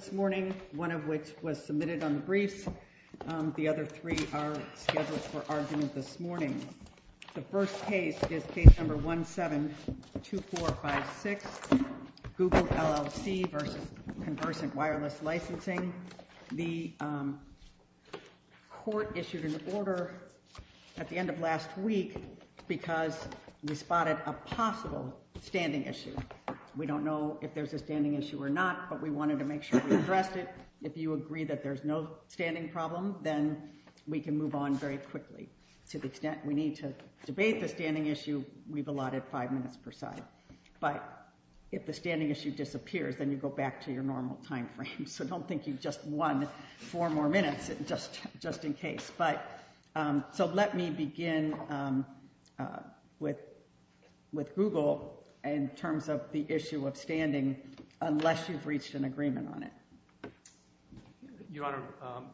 this morning, one of which was submitted on the briefs. The other three are scheduled for argument this morning. The first case is case number 172456, Google LLC v. Conversant Wireless Licensing. The court issued an order at the end of last week because we spotted a possible standing issue. We don't know if there's a standing problem. If you agree that there's no standing problem, then we can move on very quickly. To the extent we need to debate the standing issue, we've allotted five minutes per side. But if the standing issue disappears, then you go back to your normal timeframe. So don't think you've just won four more minutes just in case. So let me begin with Google in terms of the issue of your honor.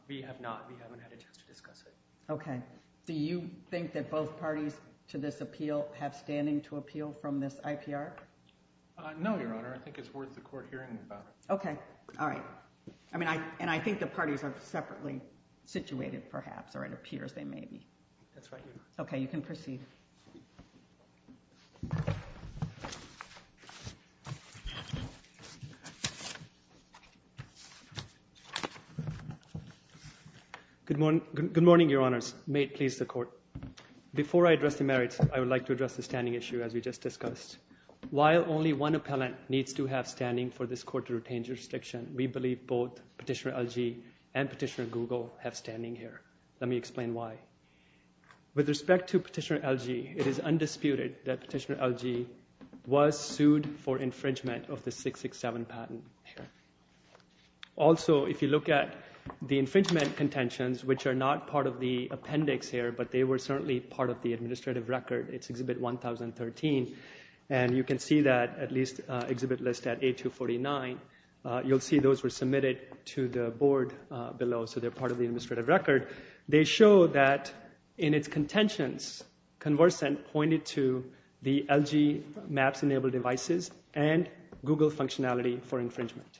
We have not. We haven't had a chance to discuss it. Okay. Do you think that both parties to this appeal have standing to appeal from this IPR? No, your honor. I think it's worth the court hearing about. Okay. All right. I mean, I and I think the parties are separately situated perhaps or it appears they may be. That's right. Okay, you can proceed. Good morning, your honors. May it please the court. Before I address the merits, I would like to address the standing issue as we just discussed. While only one appellant needs to have standing for this court to retain jurisdiction, we believe both Petitioner LG and Petitioner Google have standing here. Let me explain why. With respect to Petitioner LG, it is undisputed that Petitioner LG was Also, if you look at the infringement contentions, which are not part of the appendix here, but they were certainly part of the administrative record. It's exhibit 1013 and you can see that at least exhibit list at A249. You'll see those were submitted to the board below. So they're part of the administrative record. They show that in its contentions, conversant pointed to the LG Maps enabled devices and Google functionality for infringement.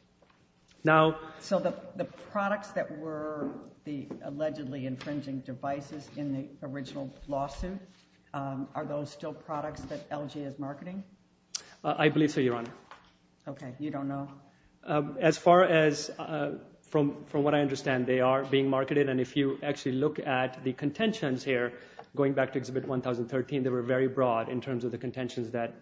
Now, so the products that were the allegedly infringing devices in the original lawsuit, are those still products that LG is marketing? I believe so, your honor. Okay, you don't know. As far as from what I understand, they are being marketed and if you actually look at the contentions here, going back to exhibit 1013, they were very broad in terms of the contentions that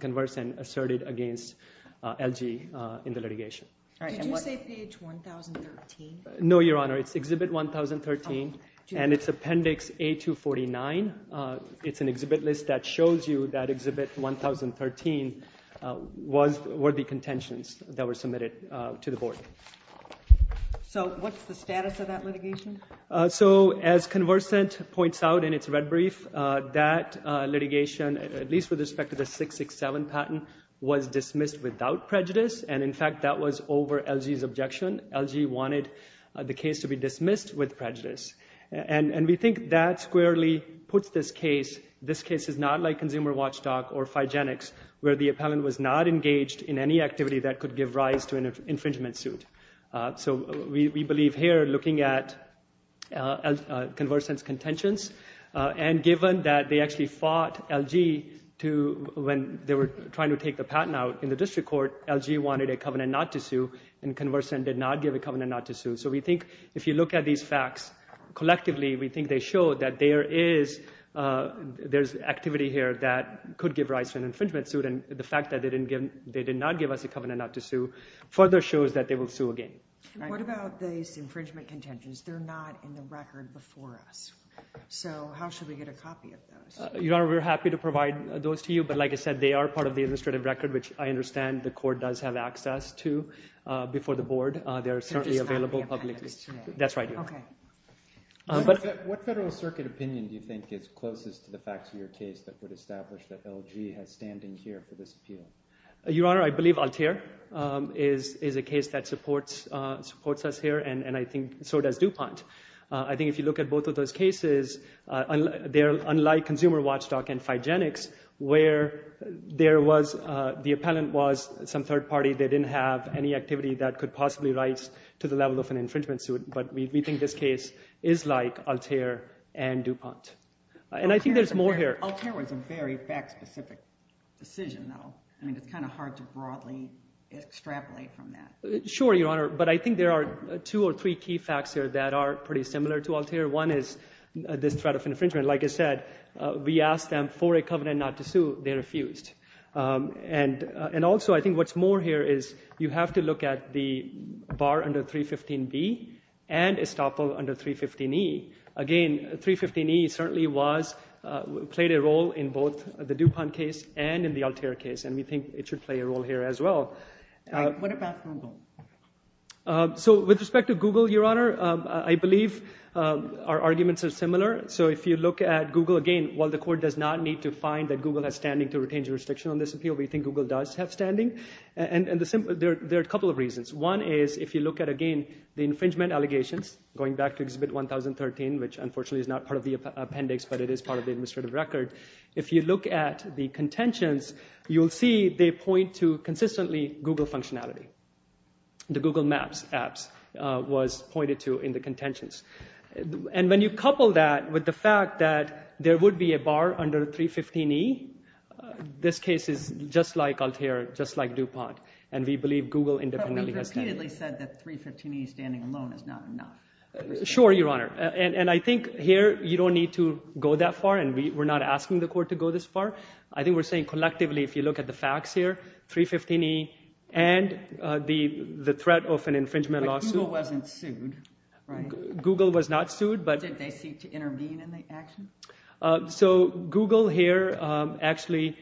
conversant asserted against LG in the litigation. Did you say page 1013? No, your honor. It's exhibit 1013 and it's appendix A249. It's an exhibit list that shows you that exhibit 1013 were the contentions that were submitted to the board. So what's the status of that litigation? So as conversant points out in its red brief, that litigation, at least with respect to the 667 patent, was dismissed without prejudice. And in fact, that was over LG's objection. LG wanted the case to be dismissed with prejudice. And we think that squarely puts this case, this case is not like Consumer Watchdog or Phygenics where the appellant was not engaged in any activity that could give rise to an infringement suit. So we believe here looking at conversant's contentions and given that they actually fought LG when they were trying to take the patent out in the district court, LG wanted a covenant not to sue and conversant did not give a covenant not to sue. So we think if you look at these facts collectively, we think they show that there's activity here that could give rise to an infringement suit and the fact that they did not give us a covenant not to sue further shows that they will sue again. What about these infringement contentions? They're not in the record before us. So how should we get a copy of those? Your Honor, we're happy to provide those to you. But like I said, they are part of the administrative record, which I understand the court does have access to before the board. They're certainly available publicly. That's right. Okay. But what Federal Circuit opinion do you think is closest to the facts of your case that would establish that LG has standing here for this appeal? Your Honor, I believe Altair is a case that supports us here and I think so does DuPont. I think if you look at both of those cases, they're unlike Consumer Watchdog and Phygenics where there was the appellant was some third party. They didn't have any activity that could possibly rise to the level of an infringement suit, but we think this case is like Altair and DuPont. And I think there's more here. Altair was a very fact-specific decision though. I think it's kind of hard to broadly extrapolate from that. Sure, Your Honor, but I think there are two or three key facts here that are pretty similar to Altair. One is this threat of infringement. Like I said, we asked them for a covenant not to sue. They refused. And also I think what's more here is you have to look at the bar under 315B and estoppel under 315E. Again, 315E certainly played a role in both the DuPont case and in the Altair case and we think it should play a role here I believe our arguments are similar. So if you look at Google again, while the court does not need to find that Google has standing to retain jurisdiction on this appeal, we think Google does have standing. And there are a couple of reasons. One is, if you look at again, the infringement allegations going back to Exhibit 1013, which unfortunately is not part of the appendix, but it is part of the administrative record. If you look at the contentions, you'll see they point to consistently Google functionality. The Google Maps apps was pointed to in the contentions. And when you couple that with the fact that there would be a bar under 315E, this case is just like Altair, just like DuPont. And we believe Google independently has standing. But we've repeatedly said that 315E standing alone is not enough. Sure, Your Honor. And I think here you don't need to go that far and we're not asking the court to go this far. I think we're saying collectively, if you look at the facts here, 315E and the threat of an infringement lawsuit. But Google wasn't sued, right? Google was not sued, but... Did they seek to intervene in the action? So Google here actually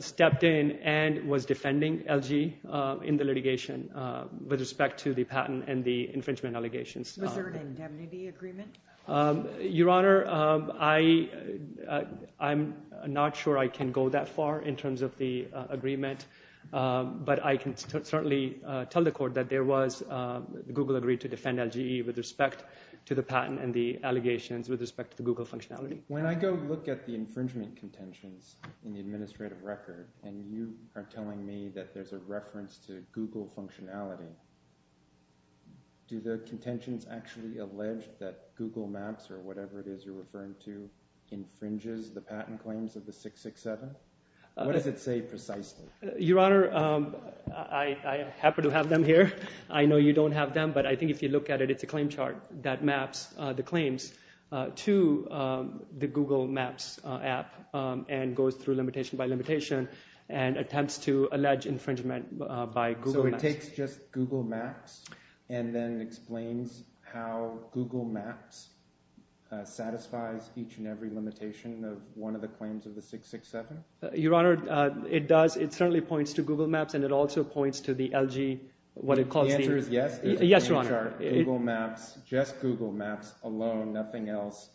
stepped in and was defending LG in the litigation with respect to the patent and the infringement allegations. Was there an indemnity agreement? Your Honor, I'm not sure I can go that far in terms of the agreement, but I can certainly tell the court that there was Google agreed to defend LG with respect to the patent and the allegations with respect to Google functionality. When I go look at the infringement contentions in the administrative record, and you are telling me that there's a reference to Google functionality. Do the contentions actually allege that Google Maps or whatever it is you're referring to infringes the patent claims of the 667? What does it say precisely? Your Honor, I happen to have them here. I know you don't have them, but I think if you look at it, it's a claim chart that maps the claims to the Google Maps app and goes through limitation by limitation and attempts to allege infringement by Google Maps. So it takes just Google Maps and then explains how Google Maps satisfies each and every limitation of one of the claims of the 667? Your Honor, it does. It certainly points to Google Maps and it also points to the LG, what it calls. The answer is yes. Yes, Your Honor. Google Maps, just Google Maps alone, nothing else.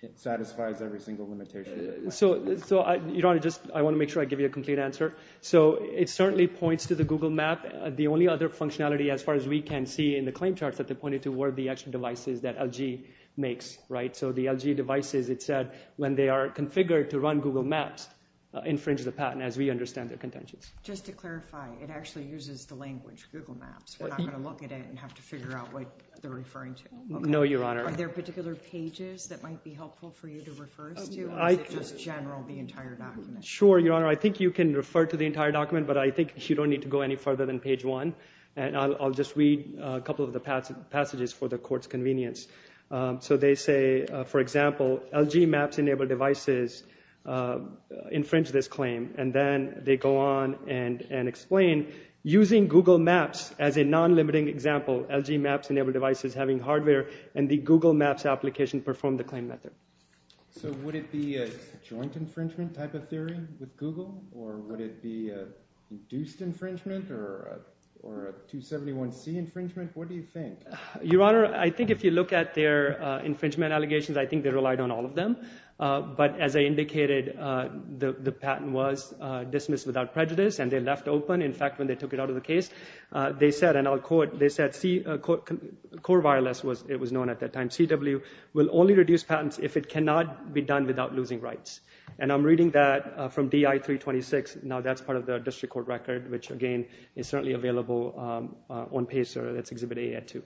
It satisfies every single limitation. So Your Honor, I want to make sure I give you a complete answer. So it certainly points to the Google Map. The only other functionality as far as we can see in the claim charts that they pointed to were the extra devices that LG makes, right? So the LG devices, it said, when they are configured to run Google Maps, infringe the patent as we understand their contentions. Just to clarify, it actually uses the language Google Maps. We're not going to look at it and have to figure out what they're referring to. No, Your Honor. Are there particular pages that might be helpful for you to refer to? Or is it just general, the entire document? Sure, Your Honor. I think you can refer to the entire document, but I think you don't need to go any further than page one and I'll just read a couple of the passages for the Court's convenience. So they say, for example, LG Maps-enabled devices infringe this claim and then they go on and explain, using Google Maps as a non-limiting example, LG Maps-enabled devices having hardware and the Google Maps application perform the claim method. So would it be a joint infringement type of theory with Google or would it be a induced infringement or a 271C infringement? What do you think? Your Honor, I think if you look at their infringement allegations, I think they relied on all of them. But as I indicated, the patent was dismissed without prejudice and they left open. In fact, when they took it out of the case, they said, and I'll quote, they said, core wireless, it was known at that time, CW, will only reduce patents if it cannot be done without losing rights. And I'm reading that from DI 326. Now that's part of the district court record, which again is certainly available on PACER. That's Exhibit A at 2.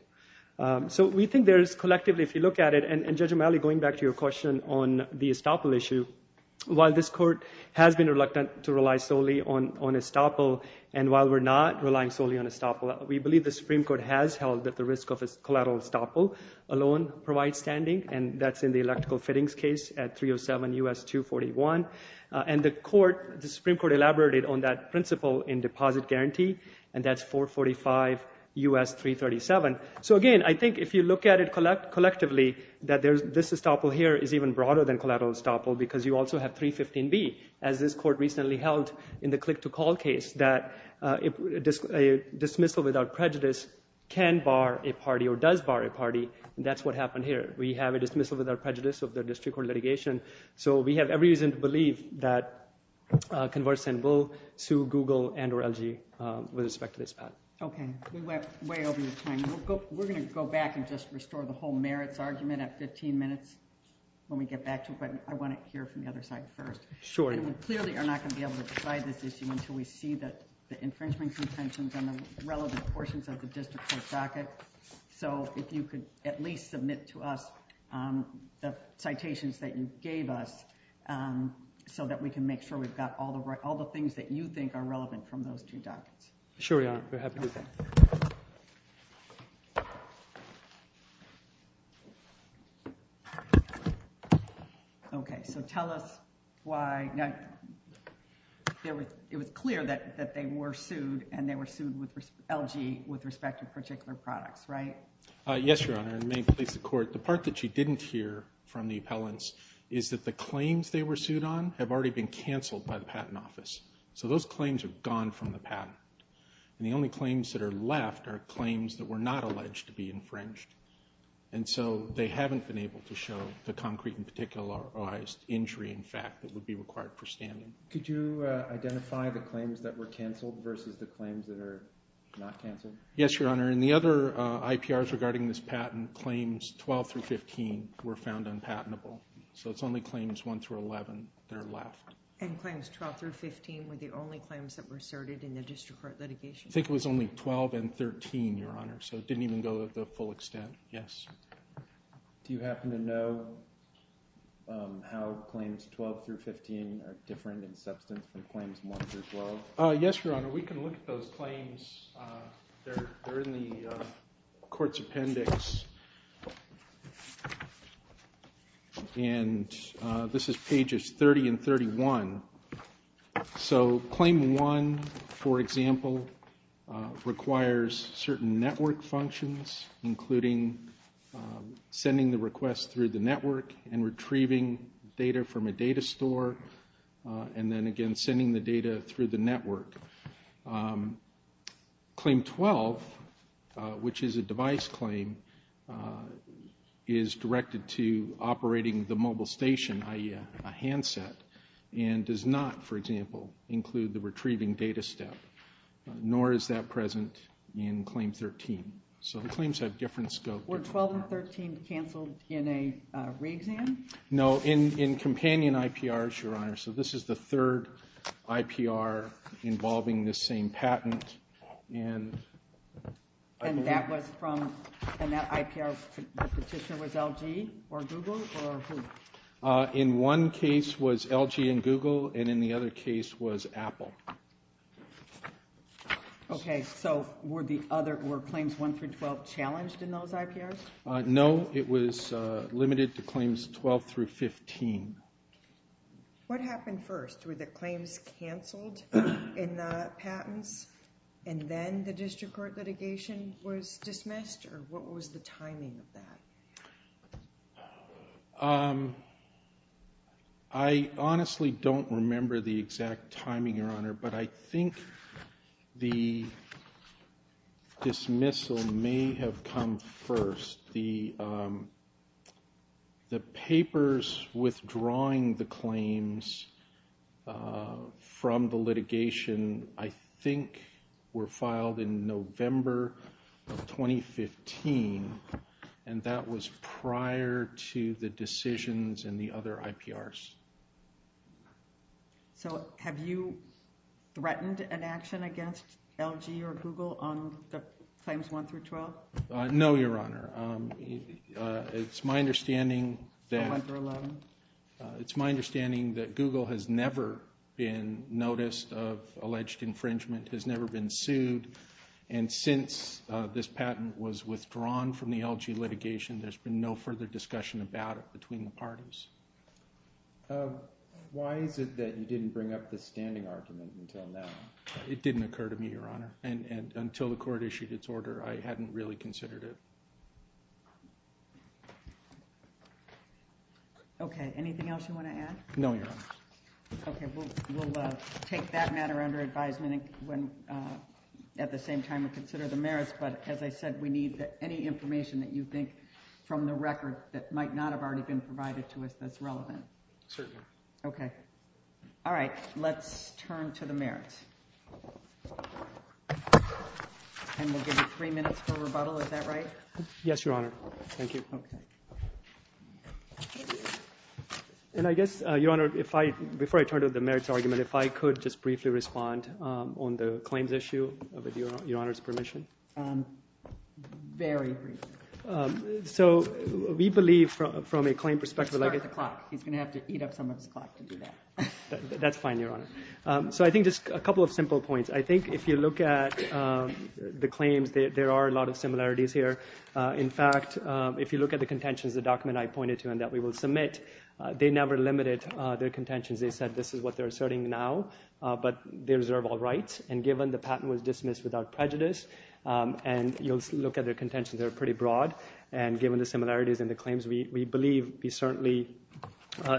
So we think there's collectively, if you look at it, and Judge O'Malley, going back to your question on the estoppel issue, while this court has been reluctant to rely solely on estoppel, and while we're not relying solely on estoppel, we believe the Supreme Court has held that the risk of a collateral estoppel alone provides standing and that's in the electrical fittings case at 307 U.S. 241. And the Supreme Court elaborated on that principle in 445 U.S. 337. So again, I think if you look at it collect collectively, that there's this estoppel here is even broader than collateral estoppel because you also have 315B, as this court recently held in the click-to-call case, that a dismissal without prejudice can bar a party or does bar a party. That's what happened here. We have a dismissal without prejudice of the district court litigation. So we have every reason to believe that Converse and Will sue Google and or LG with respect to this patent. Okay, we went way over your time. We're going to go back and just restore the whole merits argument at 15 minutes when we get back to it, but I want to hear from the other side first. Sure. And we clearly are not going to be able to decide this issue until we see that the infringement contentions on the relevant portions of the district court docket. So if you could at least submit to us the citations that you gave us so that we can make sure we've got all the right all the things that you think are relevant from those two dockets. Sure, Your Honor. Okay, so tell us why it was clear that they were sued and they were sued with LG with respect to particular products, right? Yes, Your Honor. In the main case of court, the part that you didn't hear from the appellants is that the claims they were sued on have already been canceled by the Patent Office. So those claims are gone from the patent. And the only claims that are left are claims that were not alleged to be infringed. And so they haven't been able to show the concrete and particularized injury in fact that would be required for standing. Could you identify the claims that were canceled versus the claims that are not canceled? Yes, Your Honor. In the other IPRs regarding this patent, claims 12 through 15 were found unpatentable. So it's only claims 1 through 11 that are left. And claims 12 through 15 were the only claims that were asserted in the district court litigation? I think it was only 12 and 13, Your Honor. So it didn't even go to the full extent. Yes. Do you happen to know how claims 12 through 15 are different in substance than claims 1 through 12? Yes, Your Honor. We can look at those claims. They're in the court's appendix. And this is pages 30 and 31. So claim 1, for example, requires certain network functions, including sending the request through the network and retrieving data from a data store. And then again, sending the data through the network. Claim 12, which is a device claim, is directed to operating the mobile station, i.e. a handset, and does not, for example, include the retrieving data step. Nor is that present in claim 13. So the claims have different scope. Were 12 and 13 canceled in a re-exam? No, in companion IPRs, Your Honor. So this is the third IPR involving this same patent. And that IPR's petitioner was LG or Google? Or who? In one case was LG and Google, and in the other case was Apple. Okay, so were claims 1 through 12 challenged in those IPRs? No, it was limited to claims 12 through 15. What happened first? Were the claims canceled in the patents, and then the Or what was the timing of that? I honestly don't remember the exact timing, Your Honor, but I think the dismissal may have come first. The papers withdrawing the claims from the litigation, I think were filed in November of 2015, and that was prior to the decisions in the other IPRs. So have you threatened an action against LG or Google on the claims 1 through 12? No, Your Honor. It's my understanding that Google has never been noticed of alleged infringement, has never been sued. And since this patent was withdrawn from the LG litigation, there's been no further discussion about it between the parties. Why is it that you didn't bring up the standing argument until now? It didn't occur to me, Your Honor, and until the court issued its order, I hadn't really considered it. Okay, anything else you want to add? No, Your Honor. Okay, we'll take that matter under advisement when at the same time we consider the merits. But as I said, we need any information that you think from the record that might not have already been provided to us that's relevant. Certainly. Okay. All right, let's turn to the merits. And we'll give you three minutes for rebuttal. Is that right? Yes, Your Honor. Thank you. Okay. And I guess, Your Honor, before I turn to the merits argument, if I could just briefly respond on the claims issue, with Your Honor's permission. Very briefly. So we believe from a claim perspective, Let's start at the clock. He's going to have to eat up some of his clock to do that. That's fine, Your Honor. So I think just a couple of simple points. I think if you look at the claims, there are a lot of similarities here. In fact, if you look at the contentions, the document I pointed to and that we will submit, they never limited their contentions. They said this is what they're asserting now, but they reserve all rights. And given the patent was dismissed without prejudice, and you'll look at their contentions, they're pretty broad. And given the similarities in the claims, we believe we certainly,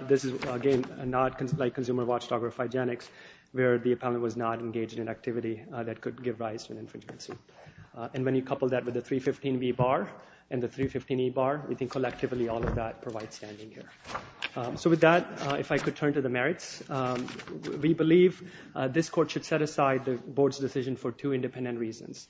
this is, again, not like consumer watchdog or hygienics, where the appellant was not engaged in activity that could give rise to an infringement suit. And when you couple that with the 315B bar and the 315E bar, we think collectively all of that provides standing here. So with that, if I could turn to the merits. We believe this court should set aside the board's decision for two independent reasons.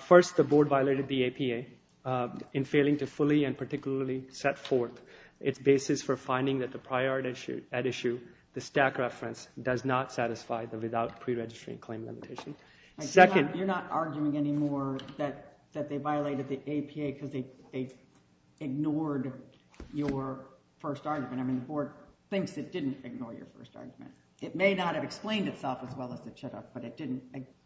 First, the board violated the APA. In failing to fully and particularly set forth its basis for finding that the priority at issue, the stack reference, does not satisfy the without preregistering claim limitation. Second... You're not arguing anymore that they violated the APA because they ignored your first argument. I mean, the board thinks it didn't ignore your first argument. It may not have explained itself as well as it should have, but it didn't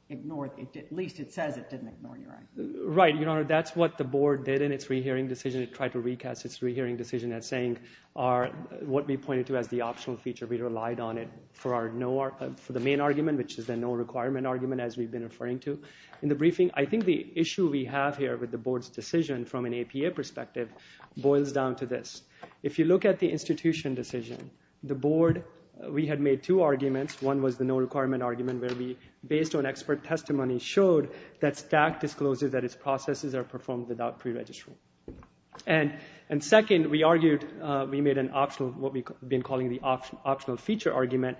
ignore, at least it says it didn't ignore your argument. Right, Your Honor. That's what the board did in its re-hearing decision. It tried to recast its re-hearing decision as saying what we pointed to as the optional feature. We relied on it for the main argument, which is the no requirement argument as we've been referring to. In the briefing, I think the issue we have here with the board's decision from an APA perspective boils down to this. If you look at the institution decision, the board, we had made two arguments. One was the no requirement argument where we, based on expert testimony, showed that STAC discloses that its processes are performed without preregistration. And second, we argued, we made an optional, what we've been calling the optional feature argument.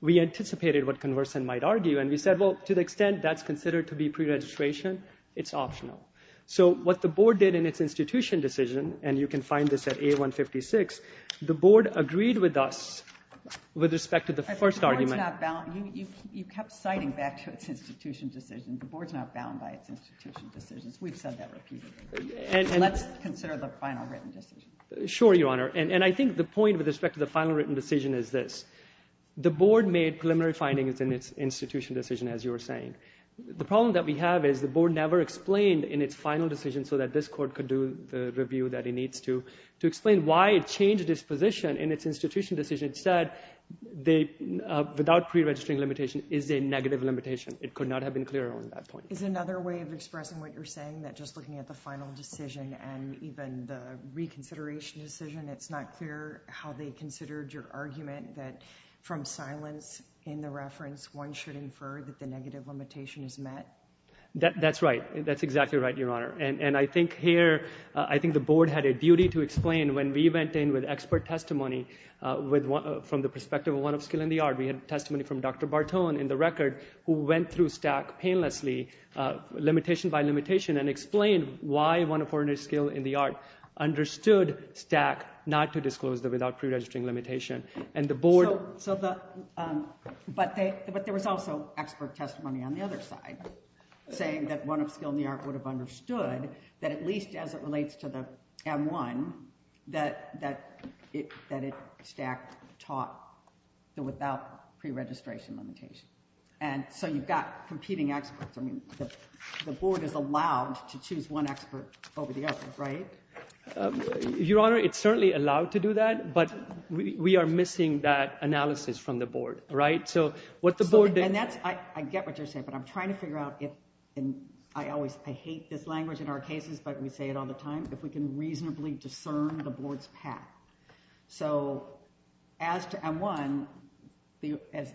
We anticipated what Converson might argue, and we said, well, to the extent that's considered to be preregistration, it's optional. So what the board did in its institution decision, and you can find this at A156, the board agreed with us with respect to the first argument. You kept citing back to its institution decision. The board's not bound by its institution decisions. We've said that repeatedly. Let's consider the final written decision. Sure, Your Honor. And I think the point with respect to the final written decision is this. The board made preliminary findings in its institution decision, as you were saying. The problem that we have is the board never explained in its final decision so that this court could do the review that it needs to, to explain why it changed its position in its institution decision. Instead, they, without preregistering limitation, is a negative limitation. It could not have been clearer on that point. Is it another way of expressing what you're saying, that just looking at the final decision and even the reconsideration decision, it's not clear how they considered your argument that from silence in the reference, one should infer that the negative limitation is met? That's right. That's exactly right, Your Honor. And I think here, I think the board had a duty to explain when we went in with expert testimony from the perspective of one of skill in the art. We had testimony from Dr. Bartone in the record who went through STAC painlessly, limitation by limitation, and explained why one of foreigners' skill in the art understood STAC not to disclose the without preregistering limitation. And the board... So, but there was also expert testimony on the other side saying that one of skill in the art would have understood that at least as it relates to the M1, that it STAC taught the without preregistration limitation. And so, you've got competing experts. I mean, the board is allowed to choose one expert over the other, right? Your Honor, it's certainly allowed to do that, but we are missing that analysis from the board, right? So, what the board did... And that's, I get what you're saying, but I'm trying to figure out if, and I always, I hate this language in our cases, but we say it all the time, if we can reasonably discern the board's path. So, as to M1, as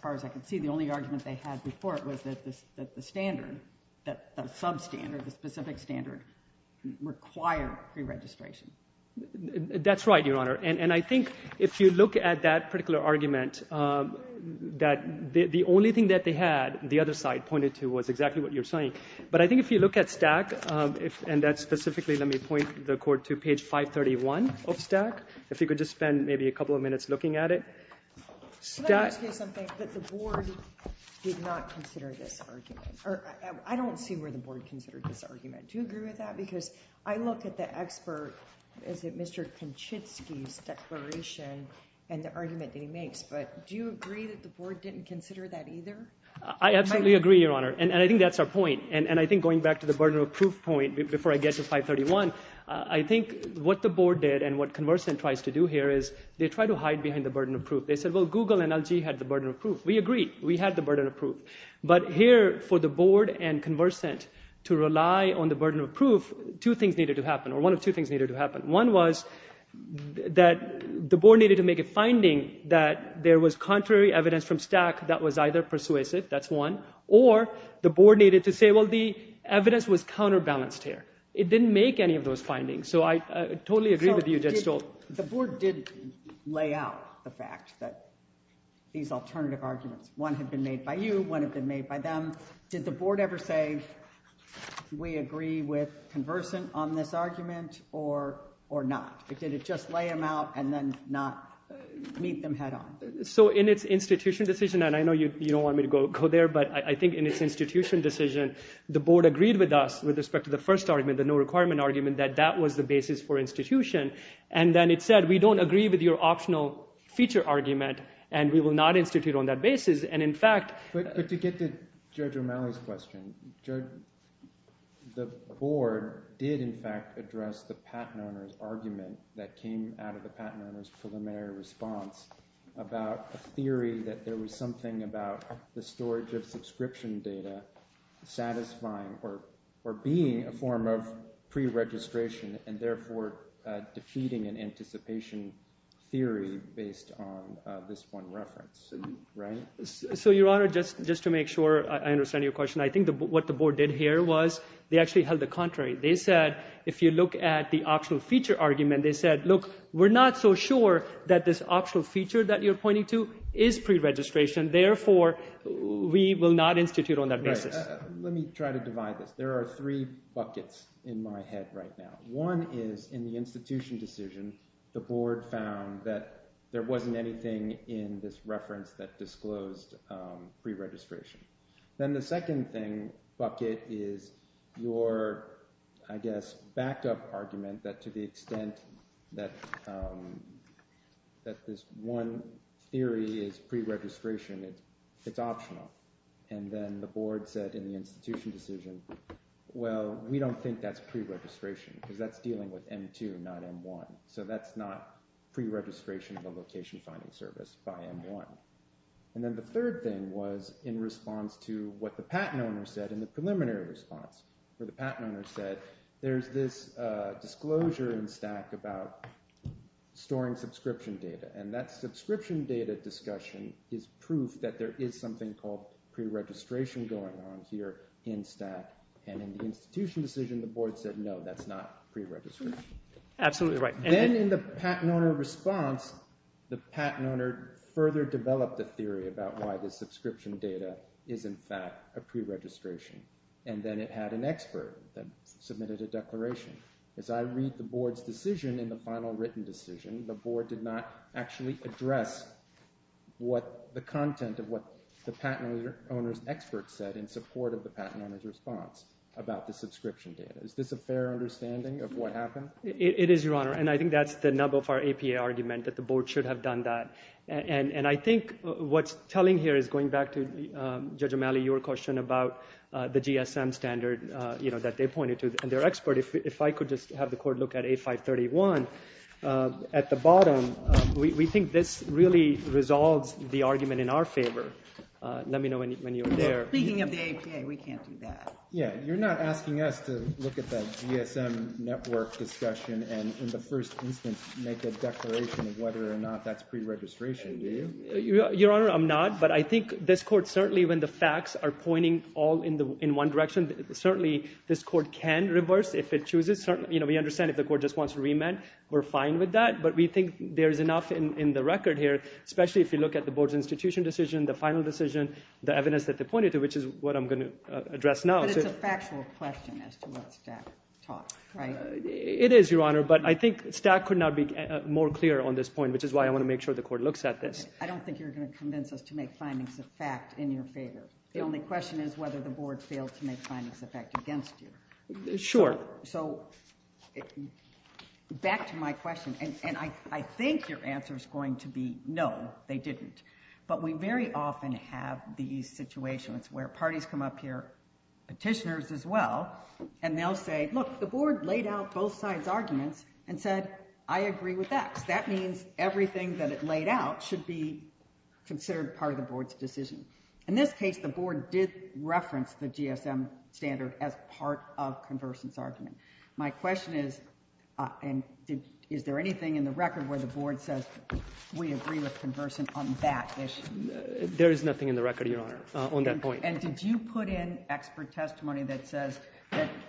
far as I can see, the only argument they had before it was that the standard, that substandard, the specific standard required preregistration. That's right, Your Honor. And I think if you look at that particular argument, that the only thing that they had, the other side pointed to, was exactly what you're saying. But I think if you look at STAC, and that's specifically, let me point the court to page 531 of STAC, if you could just spend maybe a couple of minutes looking at it, STAC... Can I just say something? That the board did not consider this argument, or I don't see where the board considered this argument. Do you agree with that? Because I look at the expert, is it Mr. Konchitski's declaration and the argument that he makes, but do you agree that the board didn't consider that either? I absolutely agree, Your Honor. And I think that's our point. And I think going back to the burden of proof point, before I get to 531, I think what the board did and what ConverScent tries to do here is, they try to hide behind the burden of proof. They said, well, Google and LG had the burden of proof. We agree, we had the burden of proof. But here, for the board and ConverScent to rely on the burden of proof, two things needed to happen, or one of two things needed to happen. One was that the board needed to make a finding that there was contrary evidence from STAC that was either persuasive, that's one, or the board needed to say, well, the evidence was counterbalanced here. It didn't make any of those findings. So I totally agree with you, Judge Stoltz. The board did lay out the fact that these alternative arguments, one had been made by you, one had been made by them. Did the board ever say, we agree with ConverScent on this argument or not? Did it just lay them out and then not meet them head on? So in its institutional decision, and I know you don't want me to go there, but I think in its institutional decision, the board agreed with us with respect to the first argument, the no requirement argument, that that was the basis for institution. And then it said, we don't agree with your optional feature argument and we will not institute on that basis. And in fact... But to get to Judge O'Malley's question, the board did in fact address the patent owner's argument that came out of the patent owner's preliminary response about a theory that there was something about the storage of subscription data satisfying or being a form of preregistration and therefore defeating an anticipation theory based on this one reference, right? So, Your Honor, just to make sure I understand your question, I think what the board did here was they actually held the contrary. They said, if you look at the optional feature argument, they said, look, we're not so sure that this optional feature that you're pointing to is preregistration. Therefore, we will not institute on that basis. Let me try to divide this. There are three buckets in my head right now. One is in the institution decision, the board found that there wasn't anything in this reference that disclosed preregistration. Then the second thing, bucket, is your, I guess, backup argument that to the extent that this one theory is preregistration, it's optional. And then the board said in the institution decision, well, we don't think that's preregistration because that's dealing with M2, not M1. So that's not preregistration of a location finding service by M1. And then the third thing was in response to what the patent owner said in the preliminary response where the patent owner said, there's this disclosure in stack about storing subscription data and that subscription data discussion is proof that there is something called preregistration going on here in stack. And in the institution decision, the board said, no, that's not preregistration. Absolutely right. Then in the patent owner response, the patent owner further developed the theory about why the subscription data is in fact a preregistration. And then it had an expert that submitted a declaration. As I read the board's decision in the final written decision, the board did not actually address what the content of what the patent owner's expert said in support of the patent owner's response about the subscription data. Is this a fair understanding of what happened? It is, Your Honor. And I think that's the nub of our APA argument that the board should have done that. And I think what's telling here is going back to Judge O'Malley, your question about the GSM standard that they pointed to and their expert. If I could just have the court look at A531 at the bottom. We think this really resolves the argument in our favor. Let me know when you're there. Speaking of the APA, we can't do that. Yeah, you're not asking us to look at that GSM network discussion and in the first instance make a declaration of whether or not that's preregistration, do you? Your Honor, I'm not. But I think this court certainly, when the facts are pointing all in one direction, certainly this court can reverse if it chooses. Certainly, you know, we understand if the court just wants to remand. We're fine with that. But we think there's enough in the record here, especially if you look at the board's institution decision, the final decision, the evidence that they pointed to, which is what I'm going to address now. But it's a factual question as to what Stack talked, right? It is, Your Honor. But I think Stack could not be more clear on this point, which is why I want to make sure the court looks at this. I don't think you're going to convince us to make findings of fact in your favor. The only question is whether the board failed to make findings of fact against you. Sure. So back to my question. And I think your answer is going to be no, they didn't. But we very often have these situations where parties come up here, petitioners as well, and they'll say, look, the board laid out both sides' arguments and said, I agree with X. That means everything that it laid out should be considered part of the board's decision. In this case, the board did reference the GSM standard as part of Conversant's argument. My question is, is there anything in the record where the board says we agree with Conversant on that issue? There is nothing in the record, Your Honor, on that point. And did you put in expert testimony that says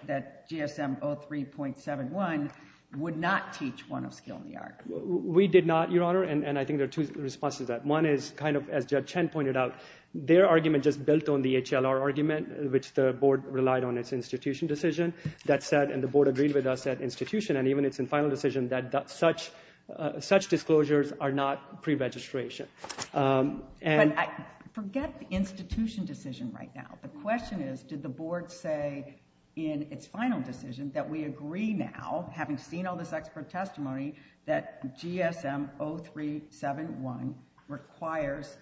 that GSM 03.71 would not teach one of skill in the art? We did not, Your Honor. And I think there are two responses to that. One is kind of, as Judge Chen pointed out, their argument just built on the HLR argument, which the board relied on its institution decision. That said, and the board agreed with us at institution, and even it's in final decision, that such disclosures are not pre-registration. And I forget the institution decision right now. The question is, did the board say in its final decision that we agree now, having seen all this expert testimony, that GSM 03.71 requires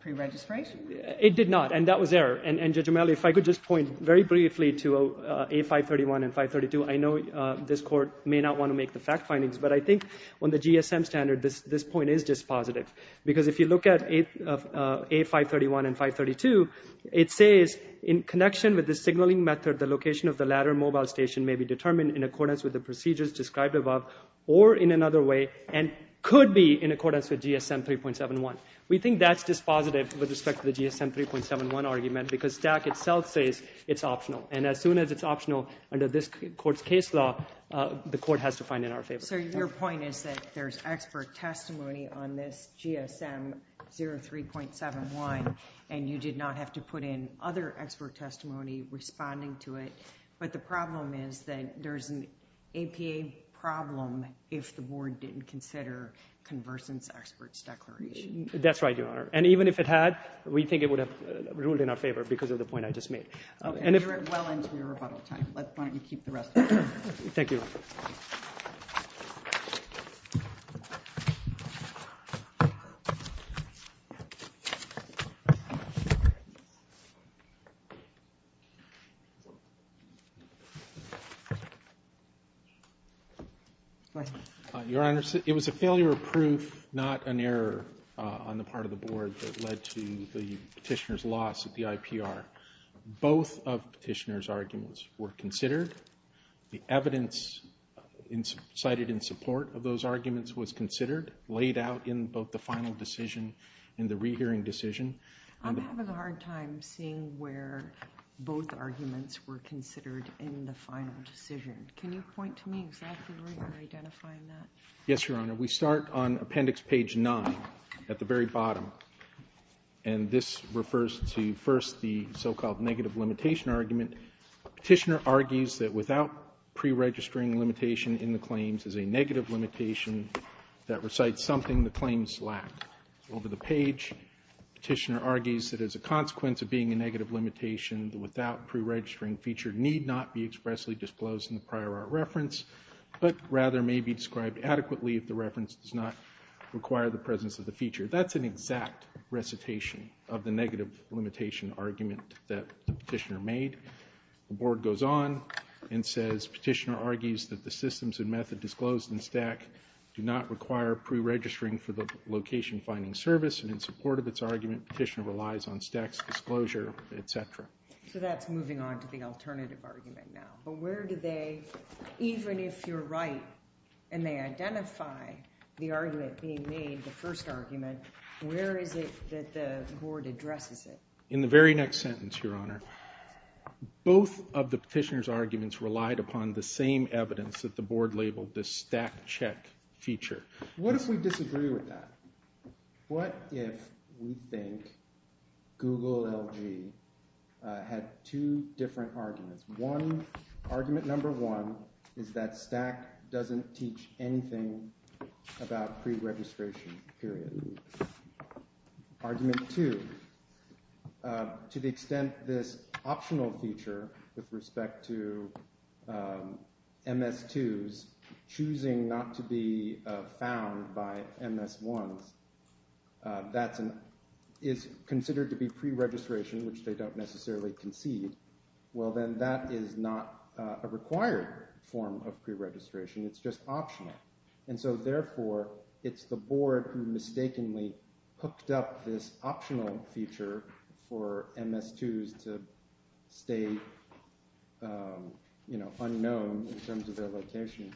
pre-registration? It did not, and that was error. And Judge O'Malley, if I could just point very briefly to A531 and 532. I know this court may not want to make the fact findings, but I think on the GSM standard, this point is dispositive. Because if you look at A531 and 532, it says in connection with the signaling method, the location of the ladder mobile station may be determined in accordance with the procedures described above or in another way, and could be in accordance with GSM 03.71. We think that's dispositive with respect to the GSM 03.71 argument, because STAC itself says it's optional. And as soon as it's optional under this court's case law, the court has to find in our favor. So your point is that there's expert testimony on this GSM 03.71, and you did not have to put in other expert testimony responding to it. But the problem is that there's an APA problem if the board didn't consider convergence experts declaration. That's right, Your Honor. And even if it had, we think it would have ruled in our favor because of the point I just made. Okay. You're well into your rebuttal time. Why don't you keep the rest of it. Thank you. Your Honor, it was a failure of proof, not an error on the part of the board that led to the petitioner's loss at the IPR. Both of the petitioner's arguments were considered. The evidence cited in support of those arguments was considered, laid out in both the final decision and the rehearing decision. I'm having a hard time seeing where both arguments were considered in the final decision. Can you point to me exactly where you're identifying that? Yes, Your Honor. We start on appendix page nine at the very bottom. And this refers to first, the so-called negative limitation argument. Petitioner argues that without pre-registering limitation in the claims is a negative limitation that recites something the claims lack. Over the page, petitioner argues that as a consequence of being a negative limitation, the without pre-registering feature need not be expressly disclosed in the prior art reference, but rather may be described adequately if the reference does not require the presence of the feature. That's an exact recitation of the negative limitation argument that the petitioner made. The board goes on and says, petitioner argues that the systems and method disclosed in STAC do not require pre-registering for the location finding service. And in support of its argument, petitioner relies on STAC's disclosure, etc. So that's moving on to the alternative argument now. But where do they, even if you're right and they identify the argument being made, the first argument, where is it that the board addresses it? In the very next sentence, your honor, both of the petitioner's arguments relied upon the same evidence that the board labeled the STAC check feature. What if we disagree with that? What if we think Google LG had two different arguments? One, argument number one, is that STAC doesn't teach anything about pre-registration, period. Argument two, to the extent this optional feature with respect to MS2s choosing not to be found by MS1s, is considered to be pre-registration, which they don't necessarily concede. Well, then that is not a required form of pre-registration. It's just optional. And so, therefore, it's the board who mistakenly hooked up this optional feature for MS2s to stay, you know, unknown in terms of their location.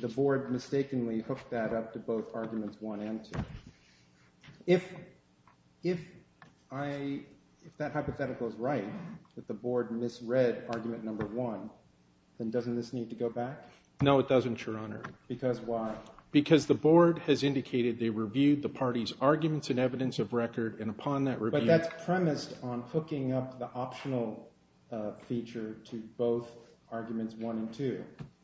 The board mistakenly hooked that up to both arguments one and two. If that hypothetical is right, that the board misread argument number one, then doesn't this need to go back? No, it doesn't, your honor. Because why? Because the board has indicated they reviewed the party's arguments and evidence of record, and upon that review... But that's premised on hooking up the optional feature to both arguments one and two.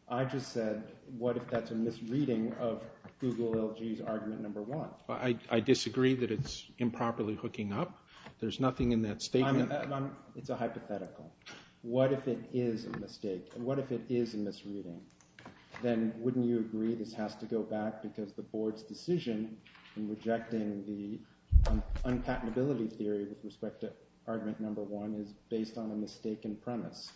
I just said, what if that's a misreading of Google LG's argument number one? I disagree that it's improperly hooking up. There's nothing in that statement... It's a hypothetical. What if it is a mistake? And what if it is a misreading? Then wouldn't you agree this has to go back because the board's decision in rejecting the unpatentability theory with respect to argument number one is based on a mistaken premise?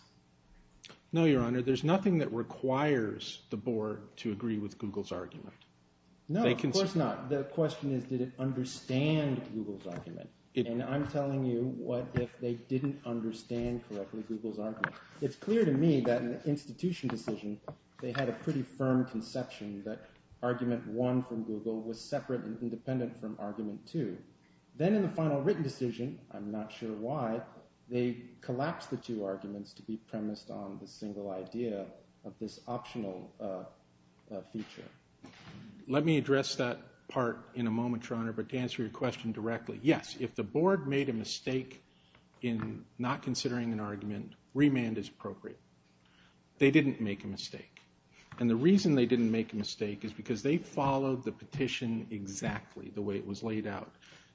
No, your honor. There's nothing that requires the board to agree with Google's argument. No, of course not. The question is, did it understand Google's argument? And I'm telling you, what if they didn't understand correctly Google's argument? It's clear to me that in the institution decision, they had a pretty firm conception that argument one from Google was separate and independent from argument two. Then in the final written decision, I'm not sure why, they collapsed the two arguments to be premised on the single idea of this optional feature. Let me address that part in a moment, your honor. But to answer your question directly, yes, if the board made a mistake in not considering an argument, remand is appropriate. They didn't make a mistake. And the reason they didn't make a mistake is because they followed the petition exactly the way it was laid out.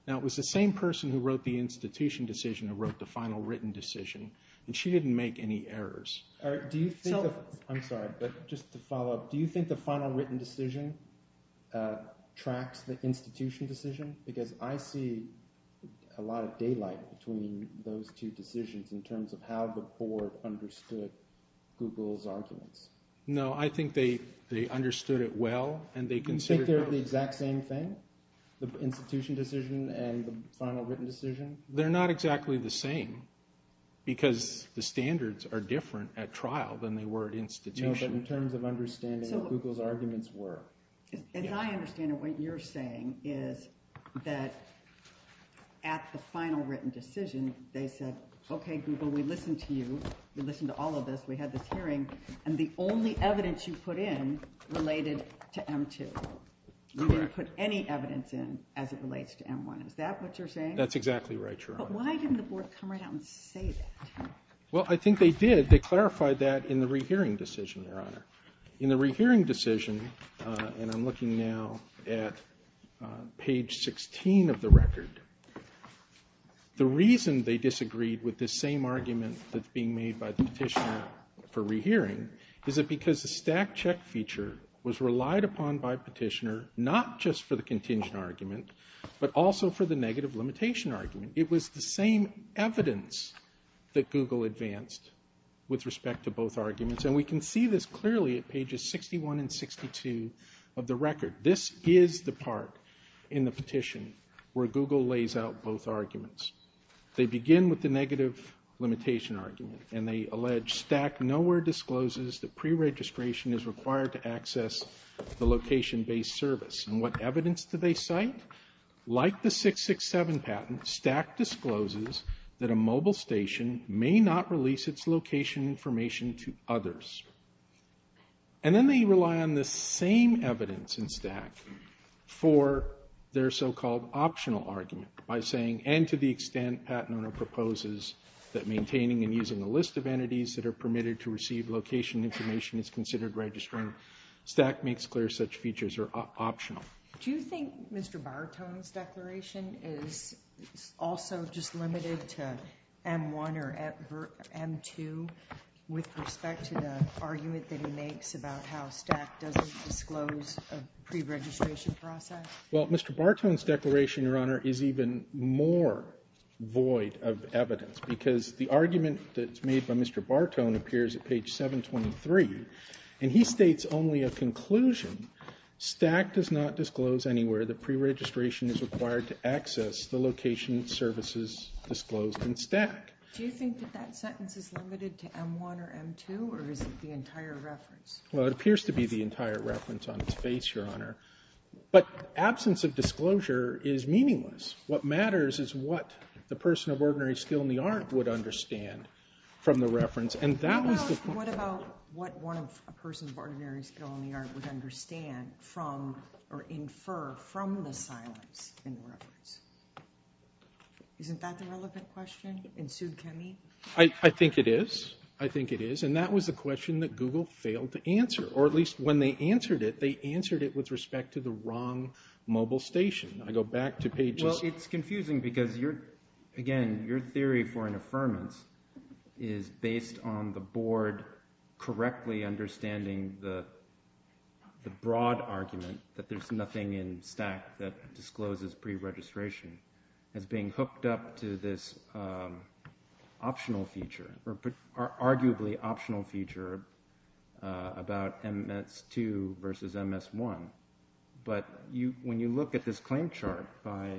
Now, it was the same person who wrote the institution decision who wrote the final written decision. And she didn't make any errors. All right. Do you think that... I'm sorry, but just to follow up, do you think the final written decision tracks the institution decision? Because I see a lot of daylight between those two decisions in terms of how the board understood Google's arguments. No, I think they understood it well and they considered... You think they're the exact same thing? The institution decision and the final written decision? They're not exactly the same because the standards are different at trial than they were at institution. No, but in terms of understanding what Google's arguments were. As I understand it, what you're saying is that at the final written decision, they said, okay, Google, we listened to you. We listened to all of this. We had this hearing and the only evidence you put in related to M2. You didn't put any evidence in as it relates to M1. Is that what you're saying? That's exactly right, Your Honor. But why didn't the board come right out and say that? Well, I think they did. They clarified that in the rehearing decision, Your Honor. In the rehearing decision, and I'm looking now at page 16 of the record, the reason they disagreed with this same argument that's being made by the petitioner for rehearing is it because the stack check feature was relied upon by petitioner, not just for the contingent argument, but also for the negative limitation argument. It was the same evidence that Google advanced with respect to both arguments. And we can see this clearly at pages 61 and 62 of the record. This is the part in the petition where Google lays out both arguments. They begin with the negative limitation argument and they allege stack nowhere discloses that pre-registration is required to access the location-based service. And what evidence do they cite? Like the 667 patent, stack discloses that a mobile station may not release its location information to others. And then they rely on the same evidence in stack for their so-called optional argument by saying, and to the extent patent owner proposes that maintaining and using a list of entities that are permitted to receive location information is considered registering. Stack makes clear such features are optional. Do you think Mr. Bartone's declaration is also just limited to M1 or M2 with respect to the argument that he makes about how stack doesn't disclose a pre-registration process? Well, Mr. Bartone's declaration, Your Honor, is even more void of evidence because the argument that's made by Mr. Bartone appears at page 723. And he States only a conclusion stack does not disclose anywhere that pre-registration is required to access the location services disclosed in stack. Do you think that that sentence is limited to M1 or M2 or is it the entire reference? Well, it appears to be the entire reference on its face, Your Honor. But absence of disclosure is meaningless. What matters is what the person of ordinary skill in the art would understand from the reference. And that was the point. What about what one of a person of ordinary skill in the art would understand from or infer from the silence in the reference? Isn't that the relevant question in Sue Kemme? I think it is. I think it is. And that was the question that Google failed to answer or at least when they answered it, they answered it with respect to the wrong mobile station. I go back to pages. Well, it's confusing because you're, again, your theory for an affirmance is based on the board correctly understanding the broad argument that there's nothing in stack that discloses pre-registration as being hooked up to this optional feature or arguably optional feature about MS2 versus MS1. But when you look at this claim chart by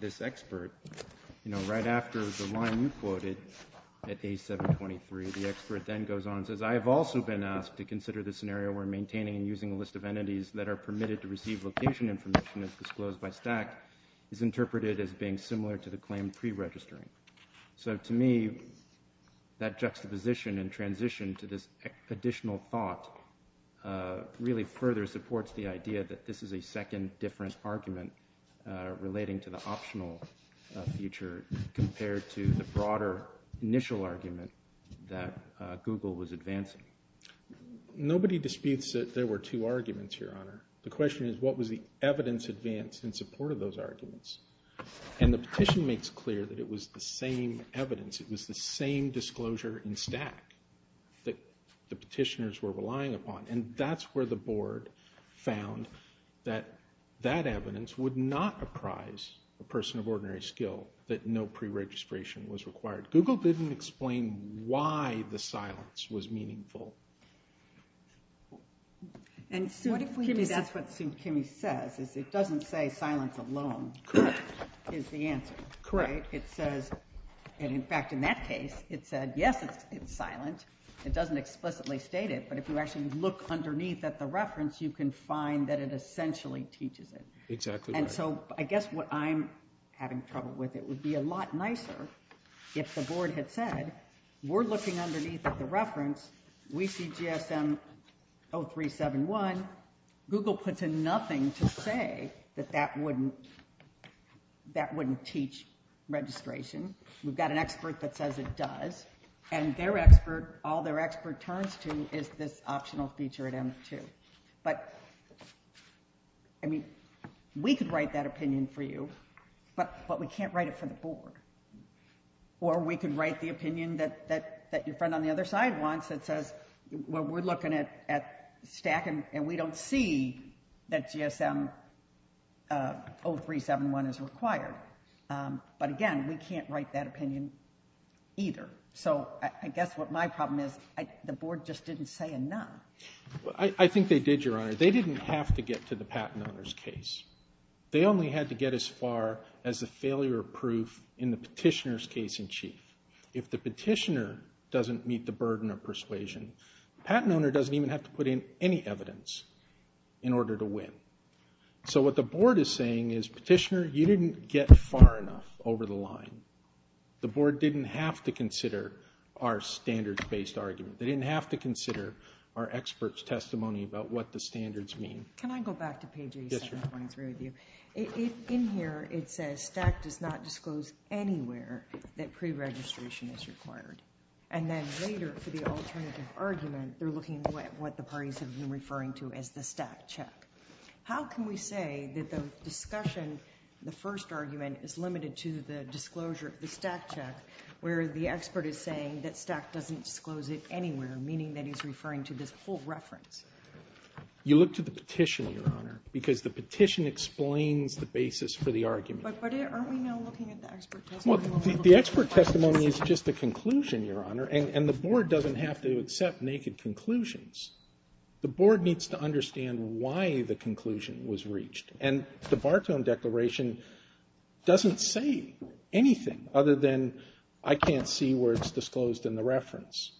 this expert, you know, right after the line you quoted at A723, the expert then goes on and says, I have also been asked to consider the scenario where maintaining and using a list of entities that are permitted to receive location information as disclosed by stack is interpreted as being similar to the claim pre-registering. So to me, that juxtaposition and transition to this additional thought really further supports the idea that this is a second different argument relating to the optional feature compared to the broader initial argument that Google was advancing. Nobody disputes that there were two arguments, Your Honor. The question is, what was the evidence advance in support of those arguments? And the petition makes clear that it was the same evidence. It was the same disclosure in stack that the petitioners were relying upon. And that's where the board found that that evidence would not apprise a person of ordinary skill that no pre-registration was required. Google didn't explain why the silence was meaningful. And that's what Sue Kimme says, is it doesn't say silence alone is the answer. Correct. It says, and in fact, in that case, it said, yes, it's silent. It doesn't explicitly state it, but if you actually look underneath at the reference, you can find that it essentially teaches it. Exactly. And so I guess what I'm having trouble with, it would be a lot nicer if the board had said, we're looking underneath at the reference. We see GSM 0371. Google puts in nothing to say that that wouldn't, that wouldn't teach registration. We've got an expert that says it does, and their expert, all their expert turns to is this optional feature at M2. But, I mean, we could write that opinion for you, but we can't write it for the board. Or we could write the opinion that your friend on the other side wants that says, well, we're looking at STAC and we don't see that GSM 0371 is required. But again, we can't write that opinion either. So I guess what my problem is, the board just didn't say enough. I think they did, Your Honor. They didn't have to get to the patent owner's case. They only had to get as far as the failure of proof in the petitioner's case in chief. If the petitioner doesn't meet the burden of persuasion, patent owner doesn't even have to put in any evidence in order to win. So what the board is saying is, petitioner, you didn't get far enough over the line. The board didn't have to consider our standards-based argument. They didn't have to consider our expert's testimony about what the standards mean. Can I go back to page 87.3 with you? In here, it says STAC does not disclose anywhere that preregistration is required. And then later for the alternative argument, they're looking at what the parties have been referring to as the STAC check. How can we say that the discussion, the first argument is limited to the disclosure of the STAC check where the expert is saying that STAC doesn't disclose it anywhere, meaning that he's referring to this full reference? You look to the petition, Your Honor, because the petition explains the basis for the argument. But aren't we now looking at the expert testimony? Well, the expert testimony is just the conclusion, Your Honor, and the board doesn't have to accept naked conclusions. The board needs to understand why the conclusion was reached. And the Bartone Declaration doesn't say anything other than, I can't see where it's disclosed in the reference.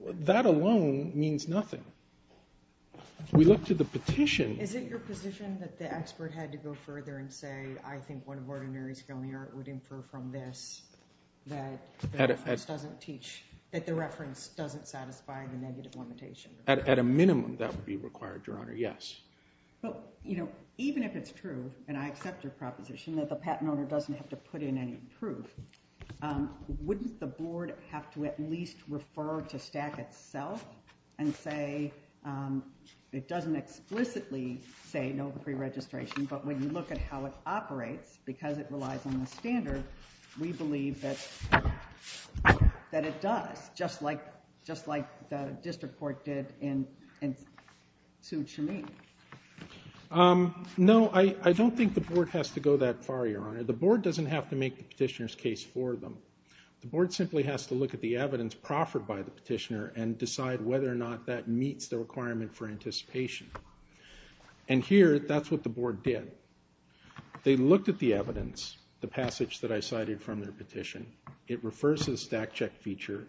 That alone means nothing. We look to the petition. Is it your position that the expert had to go further and say, I think one of ordinary skill in the art would infer from this that the reference doesn't teach, that the reference doesn't satisfy the negative limitation? At a minimum, that would be required, Your Honor, yes. But, you know, even if it's true, and I accept your proposition that the patent owner doesn't have to put in any proof, wouldn't the board have to at least refer to STAC itself and say, it doesn't explicitly say no pre-registration, but when you look at how it operates, because it relies on the standard, we believe that it does, just like the district court did in Sioux Chamois. No, I don't think the board has to go that far, Your Honor. The board doesn't have to make the petitioner's case for them. The board simply has to look at the evidence that was proffered by the petitioner and decide whether or not that meets the requirement for anticipation. And here, that's what the board did. They looked at the evidence, the passage that I cited from their petition. It refers to the STAC check feature,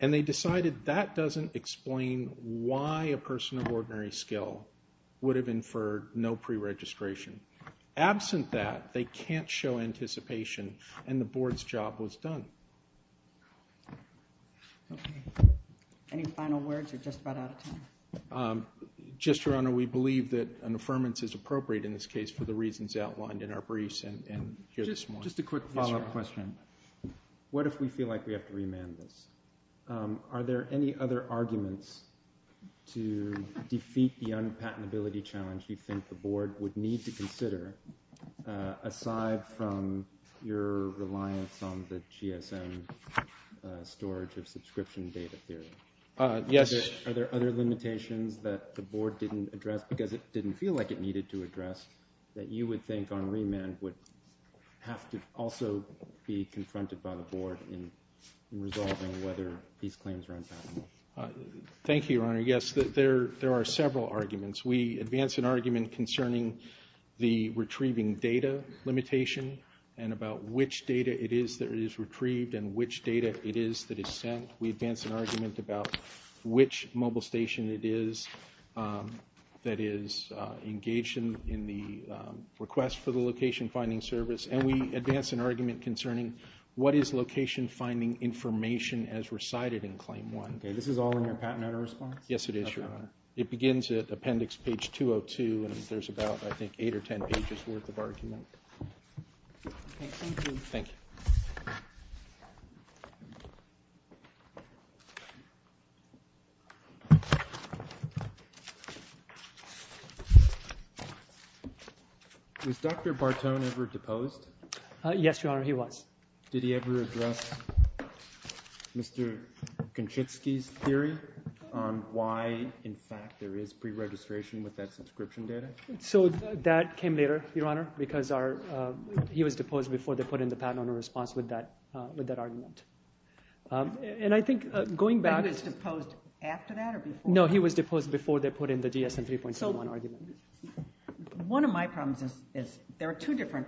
and they decided that doesn't explain why a person of ordinary skill would have inferred no pre-registration. Absent that, they can't show anticipation, and the board's job was done. Any final words, or just about out of time? Just, Your Honor, we believe that an affirmance is appropriate in this case for the reasons outlined in our briefs and here this morning. Just a quick follow-up question. What if we feel like we have to remand this? Are there any other arguments to defeat the unpatentability challenge you think the board would need to consider aside from your reliance on the GSM storage of subscription data theory? Yes. Are there other limitations that the board didn't address because it didn't feel like it needed to address that you would think on remand would have to also be confronted by the board in resolving whether these claims are unpatentable? Thank you, Your Honor. Yes, there are several arguments. We advance an argument concerning the retrieving data limitation and about which data it is that is retrieved and which data it is that is sent. We advance an argument about which mobile station it is that is engaged in the request for the location-finding service. And we advance an argument concerning what is location-finding information as recited in Claim 1. Okay, this is all in your patent letter response? Yes, it is, Your Honor. It begins at appendix page 202, and there's about, I think, 8 or 10 pages worth of argument. Okay, thank you. Thank you. Was Dr. Bartone ever deposed? Yes, Your Honor, he was. Did he ever address Mr. Kaczynski's theory on why, in fact, there is preregistration with that subscription data? So that came later, Your Honor, because he was deposed before they put in the patent on a response with that argument. And I think going back... He was deposed after that or before? No, he was deposed before they put in the DSM 3.71 argument. One of my problems is there are two different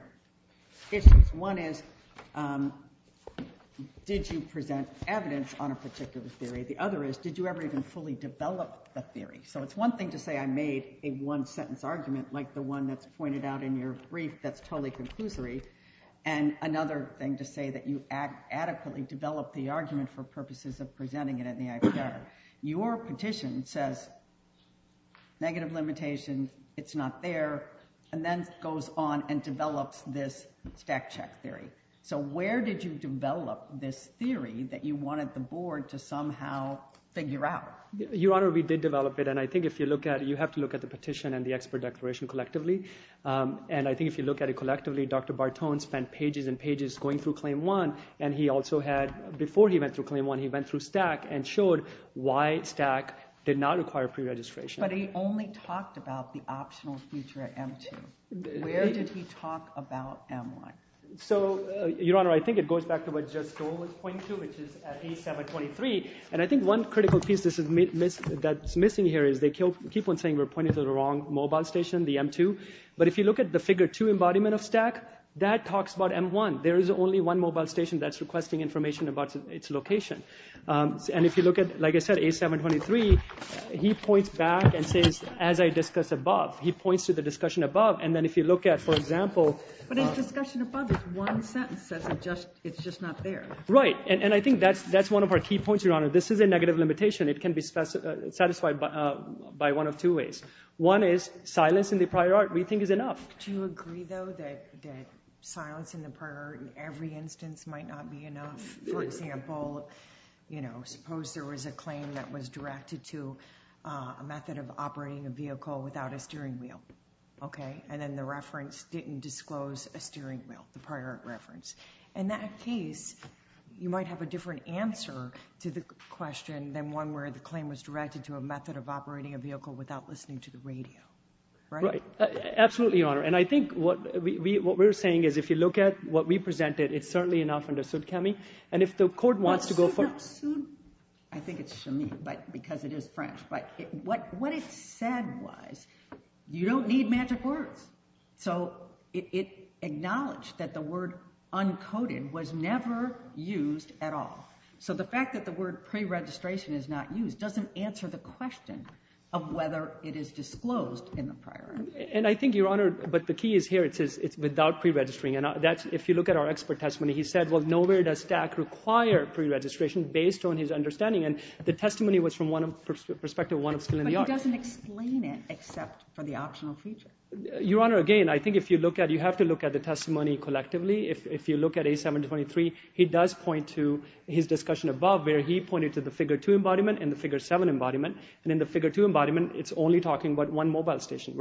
issues. One is, did you present evidence on a particular theory? The other is, did you ever even fully develop the theory? So it's one thing to say I made a one-sentence argument like the one that's pointed out in your brief that's totally conclusory, and another thing to say that you adequately developed the argument for purposes of presenting it in the IPR. Your petition says negative limitation, it's not there, and then goes on and develops this stack check theory. So where did you develop this theory that you wanted the board to somehow figure out? Your Honor, we did develop it, and I think if you look at it, you have to look at the petition and the expert declaration collectively. And I think if you look at it collectively, Dr. Bartone spent pages and pages going through Claim 1, and he also had... Before he went through Claim 1, he went through Stack and showed why Stack did not require preregistration. But he only talked about the optional feature at M2. Where did he talk about M1? So, Your Honor, I think it goes back to what Jess Stoll was pointing to, which is at A723, and I think one critical piece that's missing here is they keep on saying we're pointing to the wrong mobile station, the M2, but if you look at the Figure 2 embodiment of Stack, that talks about M1. There is only one mobile station that's requesting information about its location. And if you look at, like I said, A723, he points back and says, as I discussed above, he points to the discussion above, and then if you look at, for example... But his discussion above is one sentence. It's just not there. Right. And I think that's one of our key points, Your Honor. This is a negative limitation. It can be satisfied by one of two ways. One is silence in the prior art we think is enough. Do you agree, though, that silence in the prior art in every instance might not be enough? For example, you know, suppose there was a claim that was directed to a method of operating a vehicle without a steering wheel, okay? And then the reference didn't disclose a steering wheel, the prior art reference. In that case, you might have a different answer to the question than one where the claim was directed to a method of operating a vehicle without listening to the radio, right? Right. Absolutely, Your Honor. And I think what we're saying is if you look at what we presented, it's certainly enough under Sudkami. And if the court wants to go for it. I think it's Chamis because it is French. But what it said was you don't need magic words. So it acknowledged that the word uncoded was never used at all. So the fact that the word preregistration is not used doesn't answer the question of whether it is disclosed in the prior art. And I think, Your Honor, but the key is here. It's without preregistering. And if you look at our expert testimony, he said, well, nowhere does DACC require preregistration based on his understanding. And the testimony was from one perspective, one of skill in the art. But he doesn't explain it except for the optional feature. Your Honor, again, I think if you look at it, you have to look at the testimony collectively. If you look at A723, he does point to his discussion above where he pointed to the figure two embodiment and the figure seven embodiment. And in the figure two embodiment, it's only talking about one mobile station.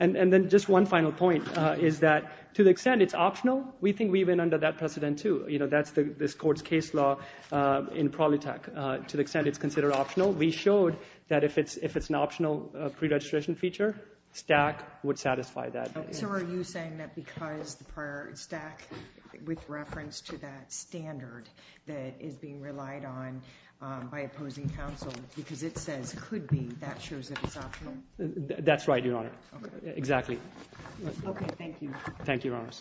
And then just one final point is that to the extent it's optional, we think we've been under that precedent too. You know, that's this court's case law in Prolitech. To the extent it's considered optional, we showed that if it's an optional preregistration feature, DACC would satisfy that. So are you saying that because the prior, DACC with reference to that standard that is being relied on by opposing counsel because it says could be, that shows that it's optional? Exactly. Okay, thank you. Thank you, Your Honors. Thank you.